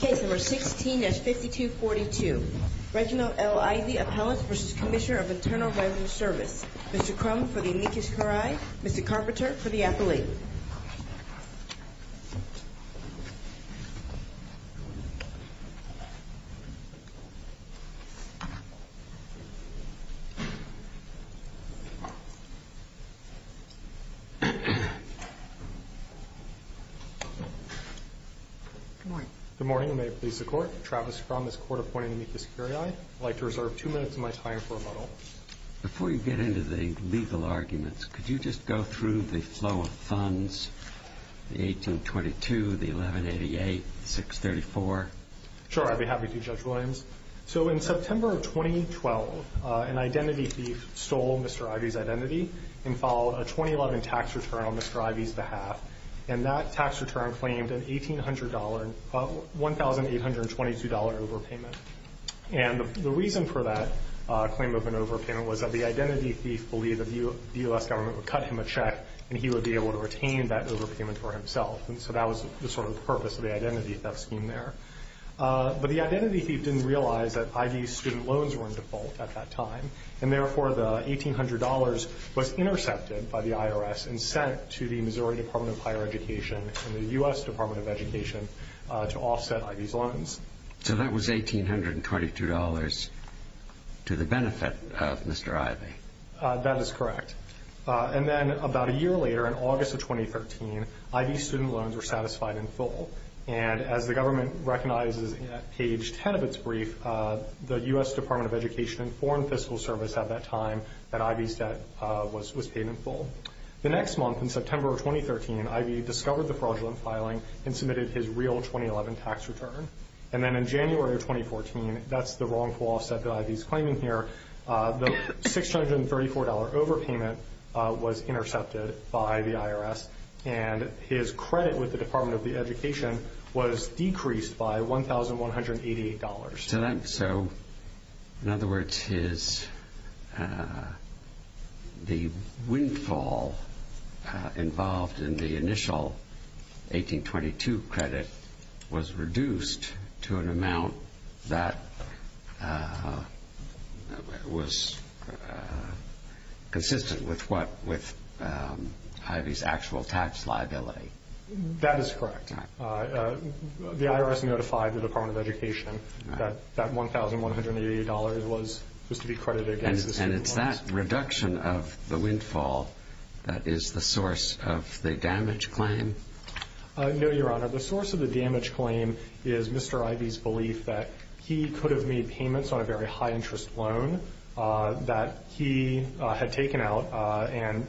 Case number 16-5242. Reginald L. Ivy, Appellant v. Cmsnr. Internal Revenue Service. Mr. Crum for the amicus curiae. Mr. Carpenter for the appellee. Good morning. Good morning, and may it please the Court. Travis Crum, this Court appointing amicus curiae. I'd like to reserve two minutes of my time for rebuttal. Before you get into the legal arguments, could you just go through the flow of funds, the 1822, the 1188, the 634? Sure. I'd be happy to, Judge Williams. So in September of 2012, an identity thief stole Mr. Ivy's identity and followed a 2011 tax return on Mr. Ivy's behalf. And that tax return claimed an $1,822 overpayment. And the reason for that claim of an overpayment was that the identity thief believed that the U.S. government would cut him a check and he would be able to retain that overpayment for himself, and so that was the sort of purpose of the identity theft scheme there. But the identity thief didn't realize that Ivy's student loans were in default at that time, and therefore the $1,800 was intercepted by the IRS and sent to the Missouri Department of Higher Education and the U.S. Department of Education to offset Ivy's loans. So that was $1,822 to the benefit of Mr. Ivy. That is correct. And then about a year later, in August of 2013, Ivy's student loans were satisfied in full. And as the government recognizes at page 10 of its brief, the U.S. Department of Education informed Fiscal Service at that time that Ivy's debt was paid in full. The next month, in September of 2013, Ivy discovered the fraudulent filing and submitted his real 2011 tax return. And then in January of 2014, that's the wrongful offset that Ivy's claiming here. The $634 overpayment was intercepted by the IRS, and his credit with the Department of Education was decreased by $1,188. So in other words, the windfall involved in the initial $1,822 credit was reduced to an amount that was consistent with Ivy's actual tax liability. That is correct. The IRS notified the Department of Education that that $1,188 was to be credited against the student loans. And it's that reduction of the windfall that is the source of the damage claim? No, Your Honor. The source of the damage claim is Mr. Ivy's belief that he could have made payments on a very high-interest loan that he had taken out and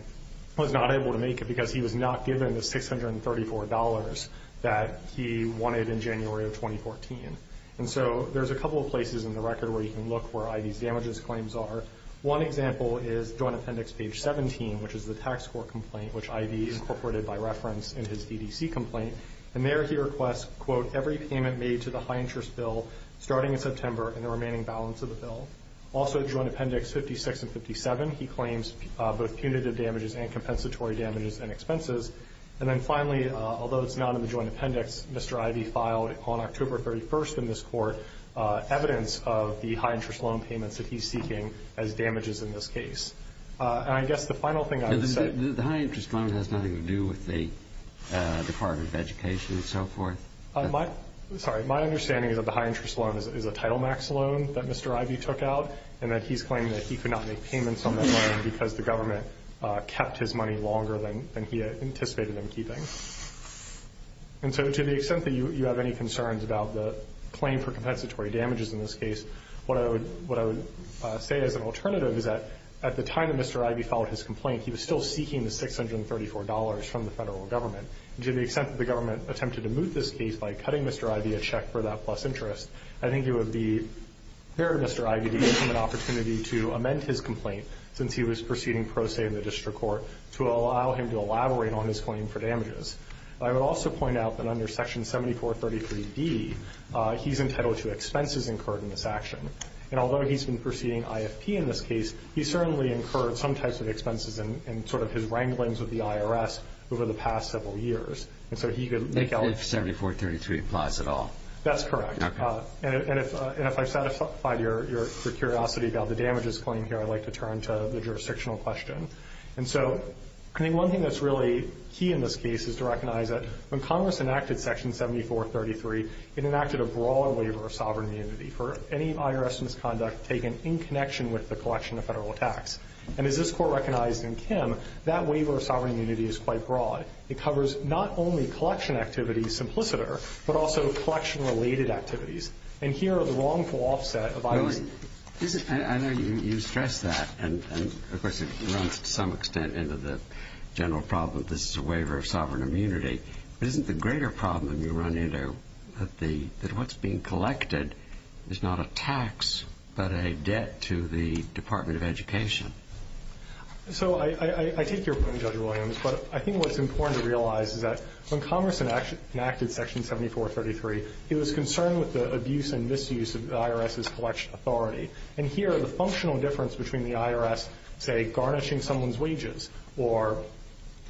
was not able to make it because he was not given the $634 that he wanted in January of 2014. And so there's a couple of places in the record where you can look where Ivy's damages claims are. One example is Joint Appendix page 17, which is the tax court complaint, which Ivy incorporated by reference in his DDC complaint. And there he requests, quote, every payment made to the high-interest bill starting in September and the remaining balance of the bill. Also, Joint Appendix 56 and 57, he claims both punitive damages and compensatory damages and expenses. And then finally, although it's not in the Joint Appendix, Mr. Ivy filed on October 31st in this court evidence of the high-interest loan payments that he's seeking as damages in this case. And I guess the final thing I would say – The high-interest loan has nothing to do with the Department of Education and so forth? Sorry, my understanding is that the high-interest loan is a Title Max loan that Mr. Ivy took out and that he's claiming that he could not make payments on that loan because the government kept his money longer than he anticipated them keeping. And so to the extent that you have any concerns about the claim for compensatory damages in this case, what I would say as an alternative is that at the time that Mr. Ivy filed his complaint, he was still seeking the $634 from the federal government. To the extent that the government attempted to move this case by cutting Mr. Ivy a check for that plus interest, I think it would be fair to Mr. Ivy to give him an opportunity to amend his complaint since he was proceeding pro se in the district court to allow him to elaborate on his claim for damages. I would also point out that under Section 7433d, he's entitled to expenses incurred in this action. And although he's been proceeding IFP in this case, he's certainly incurred some types of expenses in sort of his wranglings with the IRS over the past several years. And so he could make out- If 7433 implies at all. That's correct. Okay. And if I've satisfied your curiosity about the damages claim here, I'd like to turn to the jurisdictional question. And so I think one thing that's really key in this case is to recognize that when Congress enacted Section 7433, it enacted a broader waiver of sovereign immunity for any IRS misconduct taken in connection with the collection of federal tax. And as this Court recognized in Kim, that waiver of sovereign immunity is quite broad. It covers not only collection activities simpliciter, but also collection-related activities. And here are the wrongful offset of Ivy's- I know you stress that. And, of course, it runs to some extent into the general problem that this is a waiver of sovereign immunity. But isn't the greater problem you run into that what's being collected is not a tax, but a debt to the Department of Education? So I take your point, Judge Williams. But I think what's important to realize is that when Congress enacted Section 7433, it was concerned with the abuse and misuse of the IRS's collection authority. And here, the functional difference between the IRS, say, garnishing someone's wages or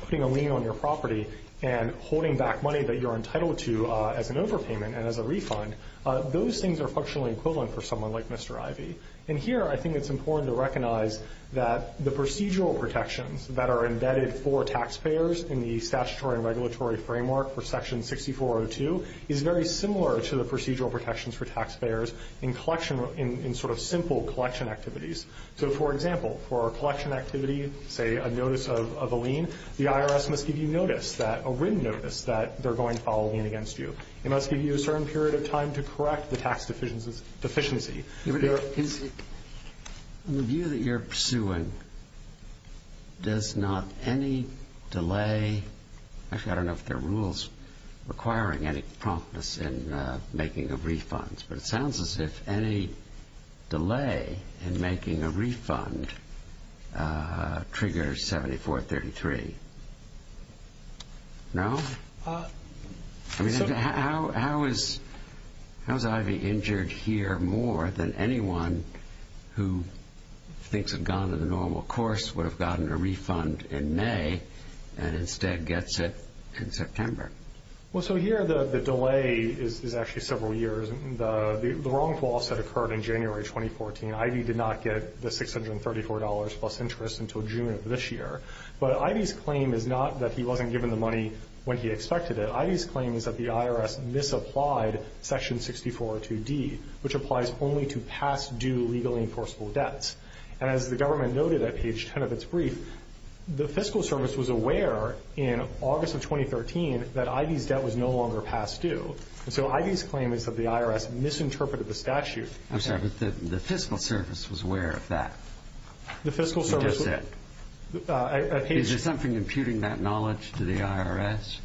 putting a lien on your property and holding back money that you're entitled to as an overpayment and as a refund, those things are functionally equivalent for someone like Mr. Ivy. And here, I think it's important to recognize that the procedural protections that are embedded for taxpayers in the statutory and regulatory framework for Section 6402 is very similar to the procedural protections for taxpayers in sort of simple collection activities. So, for example, for a collection activity, say, a notice of a lien, the IRS must give you a written notice that they're going to file a lien against you. They must give you a certain period of time to correct the tax deficiency. In the view that you're pursuing, does not any delay? Actually, I don't know if there are rules requiring any promptness in making a refund. But it sounds as if any delay in making a refund triggers 7433. No? I mean, how is Ivy injured here more than anyone who thinks had gone to the normal course would have gotten a refund in May and instead gets it in September? Well, so here the delay is actually several years. The wrongful offset occurred in January 2014. Ivy did not get the $634 plus interest until June of this year. But Ivy's claim is not that he wasn't given the money when he expected it. Ivy's claim is that the IRS misapplied Section 6402D, which applies only to past due legally enforceable debts. And as the government noted at page 10 of its brief, the Fiscal Service was aware in August of 2013 that Ivy's debt was no longer past due. So Ivy's claim is that the IRS misinterpreted the statute. I'm sorry, but the Fiscal Service was aware of that? The Fiscal Service was aware. Is there something imputing that knowledge to the IRS?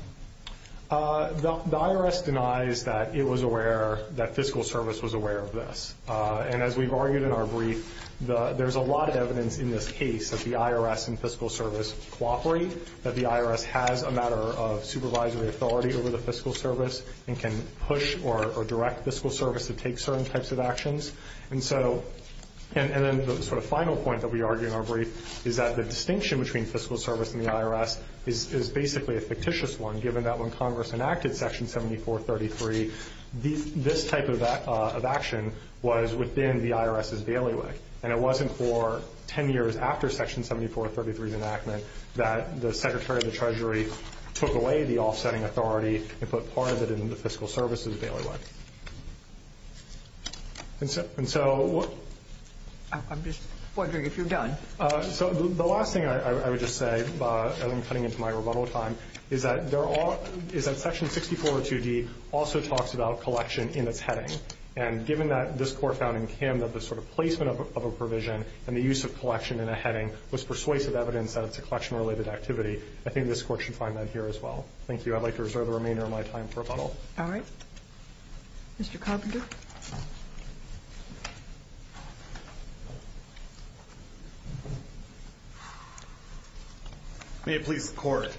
The IRS denies that it was aware, that Fiscal Service was aware of this. And as we've argued in our brief, there's a lot of evidence in this case that the IRS and Fiscal Service cooperate, that the IRS has a matter of supervisory authority over the Fiscal Service and can push or direct Fiscal Service to take certain types of actions. And then the sort of final point that we argue in our brief is that the distinction between Fiscal Service and the IRS is basically a fictitious one, given that when Congress enacted Section 7433, this type of action was within the IRS's bailiwick. And it wasn't for 10 years after Section 7433's enactment that the Secretary of the Treasury took away the offsetting authority and put part of it in the Fiscal Service's bailiwick. And so what... I'm just wondering if you're done. So the last thing I would just say, as I'm cutting into my rebuttal time, is that Section 6402D also talks about collection in its heading. And given that this Court found in Camden that the sort of placement of a provision and the use of collection in a heading was persuasive evidence that it's a collection-related activity, I think this Court should find that here as well. Thank you. I'd like to reserve the remainder of my time for rebuttal. All right. Mr. Carpenter? May it please the Court.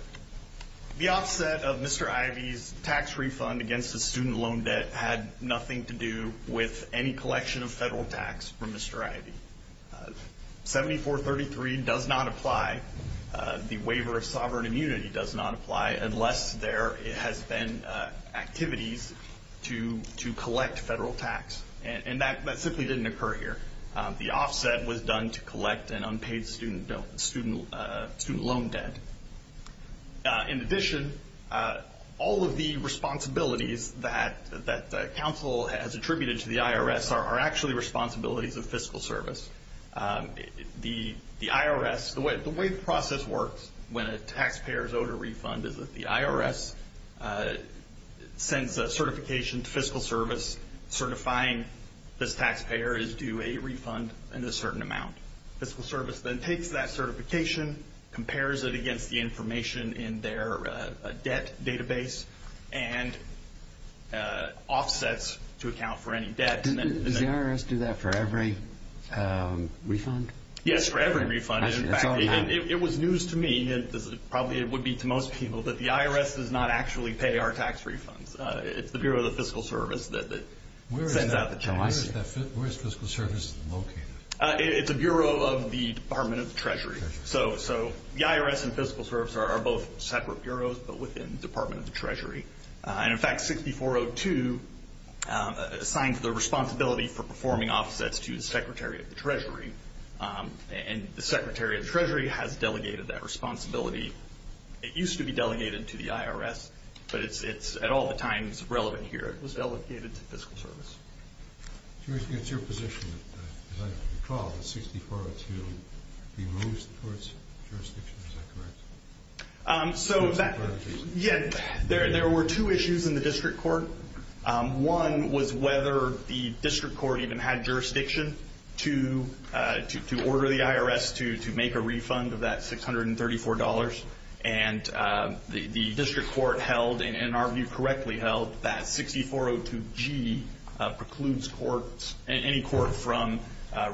The offset of Mr. Ivey's tax refund against the student loan debt had nothing to do with any collection of federal tax from Mr. Ivey. 7433 does not apply. The waiver of sovereign immunity does not apply And that simply didn't occur here. The offset was done to collect an unpaid student loan debt. In addition, all of the responsibilities that counsel has attributed to the IRS are actually responsibilities of Fiscal Service. The IRS, the way the process works when a taxpayer is owed a refund is that the IRS sends a certification to Fiscal Service certifying this taxpayer is due a refund in a certain amount. Fiscal Service then takes that certification, compares it against the information in their debt database, and offsets to account for any debt. Does the IRS do that for every refund? Yes, for every refund. It was news to me, and probably it would be to most people, that the IRS does not actually pay our tax refunds. It's the Bureau of the Fiscal Service that sends out the checks. Where is Fiscal Service located? It's the Bureau of the Department of the Treasury. So the IRS and Fiscal Service are both separate bureaus, but within the Department of the Treasury. In fact, 6402 assigned the responsibility for performing offsets to the Secretary of the Treasury. And the Secretary of the Treasury has delegated that responsibility. It used to be delegated to the IRS, but it's at all the times relevant here. It was delegated to Fiscal Service. It's your position that, as I recall, that 6402 be moved towards jurisdiction. Is that correct? Yeah, there were two issues in the district court. One was whether the district court even had jurisdiction to order the IRS to make a refund of that $634. And the district court held, and in our view correctly held, that 6402G precludes any court from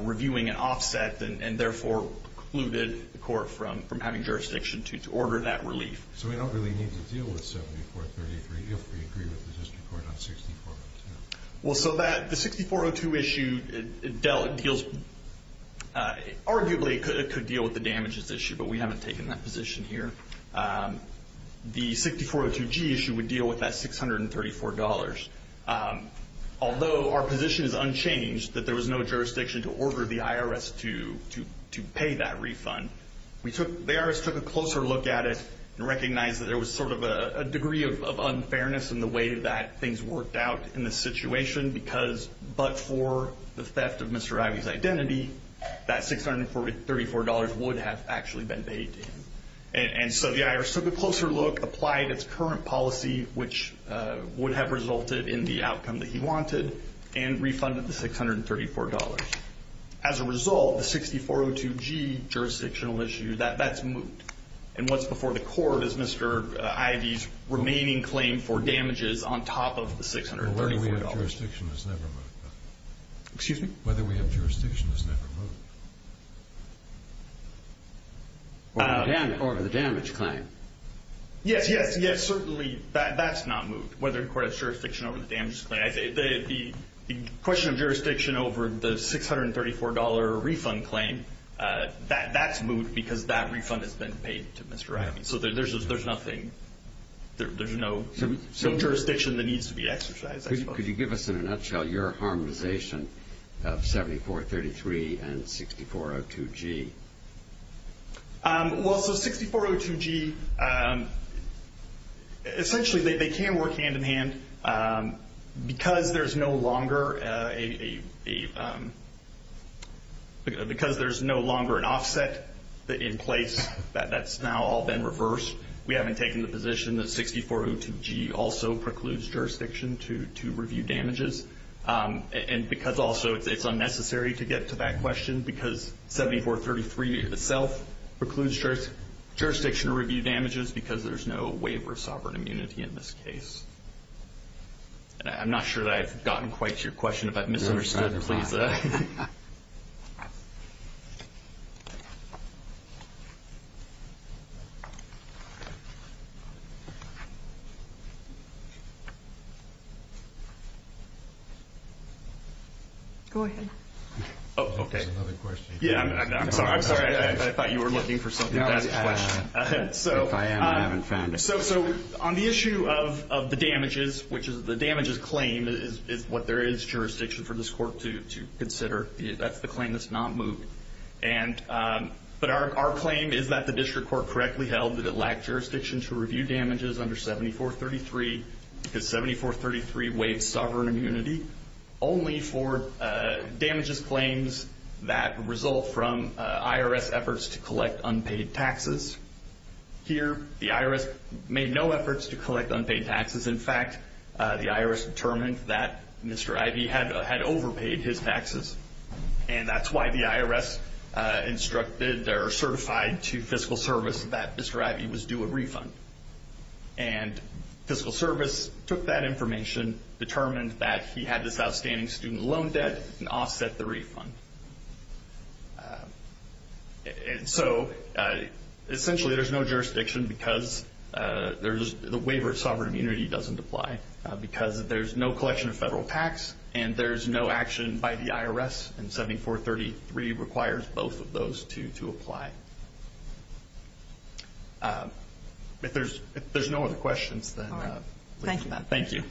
reviewing an offset and therefore precluded the court from having jurisdiction to order that relief. So we don't really need to deal with 7433 if we agree with the district court on 6402. Well, so the 6402 issue arguably could deal with the damages issue, but we haven't taken that position here. The 6402G issue would deal with that $634. Although our position is unchanged that there was no jurisdiction to order the IRS to pay that refund, the IRS took a closer look at it and recognized that there was sort of a degree of unfairness in the way that things worked out in this situation because but for the theft of Mr. Ivey's identity, that $634 would have actually been paid to him. And so the IRS took a closer look, applied its current policy, which would have resulted in the outcome that he wanted, and refunded the $634. As a result, the 6402G jurisdictional issue, that's moved. And what's before the court is Mr. Ivey's remaining claim for damages on top of the $634. Whether we have jurisdiction has never moved. Excuse me? Whether we have jurisdiction has never moved. Or the damage claim. Yes, yes, yes, certainly that's not moved, whether the court has jurisdiction over the damages claim. The question of jurisdiction over the $634 refund claim, that's moved because that refund has been paid to Mr. Ivey. So there's nothing, there's no jurisdiction that needs to be exercised. Could you give us in a nutshell your harmonization of 7433 and 6402G? Well, so 6402G, essentially they can work hand in hand because there's no longer an offset in place that's now all been reversed. We haven't taken the position that 6402G also precludes jurisdiction to review damages. And because also it's unnecessary to get to that question because 7433 itself precludes jurisdiction to review damages because there's no waiver of sovereign immunity in this case. I'm not sure that I've gotten quite to your question. If I've misunderstood, please. Go ahead. Oh, okay. There's another question. Yeah, I'm sorry, I'm sorry. I thought you were looking for something to ask a question. If I am, I haven't found it. So on the issue of the damages, which is the damages claim is what there is jurisdiction for this court to consider. That's the claim that's not moved. But our claim is that the district court correctly held that it lacked jurisdiction to review damages under 7433 because 7433 waived sovereign immunity only for damages claims that result from IRS efforts to collect unpaid taxes. Here, the IRS made no efforts to collect unpaid taxes. In fact, the IRS determined that Mr. Ivey had overpaid his taxes. And that's why the IRS instructed or certified to fiscal service that Mr. Ivey was due a refund. And fiscal service took that information, determined that he had this outstanding student loan debt, and offset the refund. And so essentially there's no jurisdiction because the waiver of sovereign immunity doesn't apply because there's no collection of federal tax and there's no action by the IRS, and 7433 requires both of those to apply. If there's no other questions, then thank you.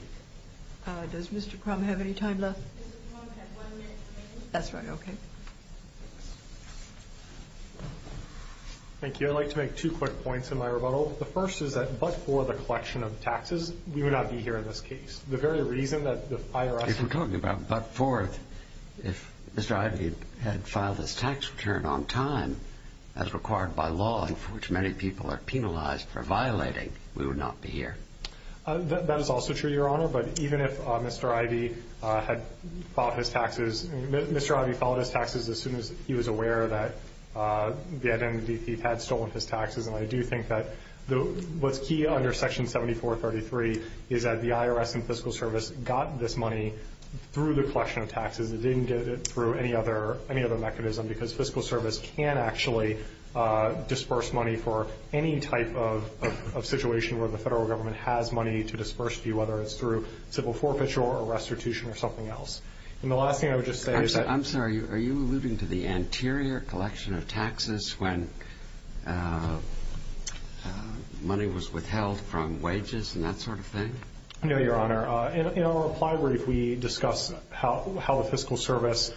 Does Mr. Crum have any time left? Mr. Crum has one minute remaining. That's right. Okay. Thank you. I'd like to make two quick points in my rebuttal. The first is that but for the collection of taxes, we would not be here in this case. The very reason that the IRS If we're talking about but for it, if Mr. Ivey had filed his tax return on time as required by law and for which many people are penalized for violating, we would not be here. That is also true, Your Honor. But even if Mr. Ivey had filed his taxes, Mr. Ivey filed his taxes as soon as he was aware that he had stolen his taxes. And I do think that what's key under Section 7433 is that the IRS and fiscal service got this money through the collection of taxes. It didn't get it through any other mechanism because fiscal service can actually disperse money for any type of situation where the federal government has money to disperse to you, whether it's through civil forfeiture or restitution or something else. And the last thing I would just say is that I'm sorry. Are you alluding to the anterior collection of taxes when money was withheld from wages and that sort of thing? No, Your Honor. In our reply brief, we discuss how the fiscal service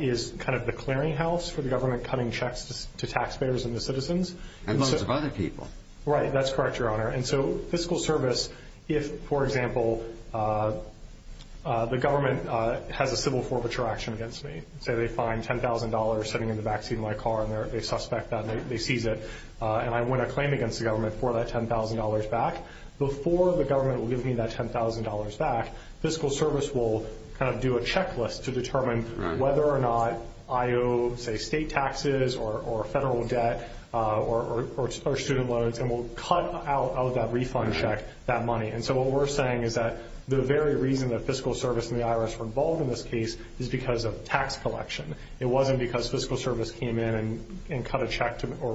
is kind of the clearinghouse for the government cutting checks to taxpayers and the citizens. And lots of other people. Right. That's correct, Your Honor. And so fiscal service, if, for example, the government has a civil forfeiture action against me, say they find $10,000 sitting in the backseat of my car and they suspect that and they seize it and I win a claim against the government for that $10,000 back, before the government will give me that $10,000 back, fiscal service will kind of do a checklist to determine whether or not I owe, say, state taxes or federal debt or student loans and will cut out of that refund check that money. And so what we're saying is that the very reason that fiscal service and the IRS were involved in this case is because of tax collection. It wasn't because fiscal service came in and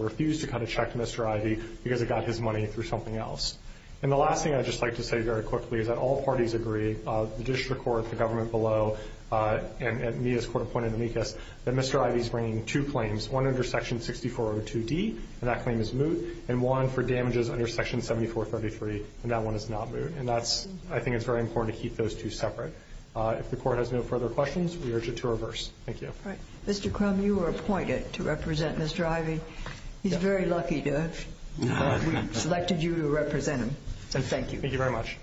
refused to cut a check to Mr. Ivey because it got his money through something else. And the last thing I'd just like to say very quickly is that all parties agree, the district court, the government below, and Mia's court appointed amicus, that Mr. Ivey's bringing two claims, one under Section 6402D, and that claim is moot, and one for damages under Section 7433, and that one is not moot. And that's – I think it's very important to keep those two separate. If the Court has no further questions, we urge it to reverse. Thank you. Mr. Crum, you were appointed to represent Mr. Ivey. He's very lucky that we selected you to represent him. And thank you. Thank you very much.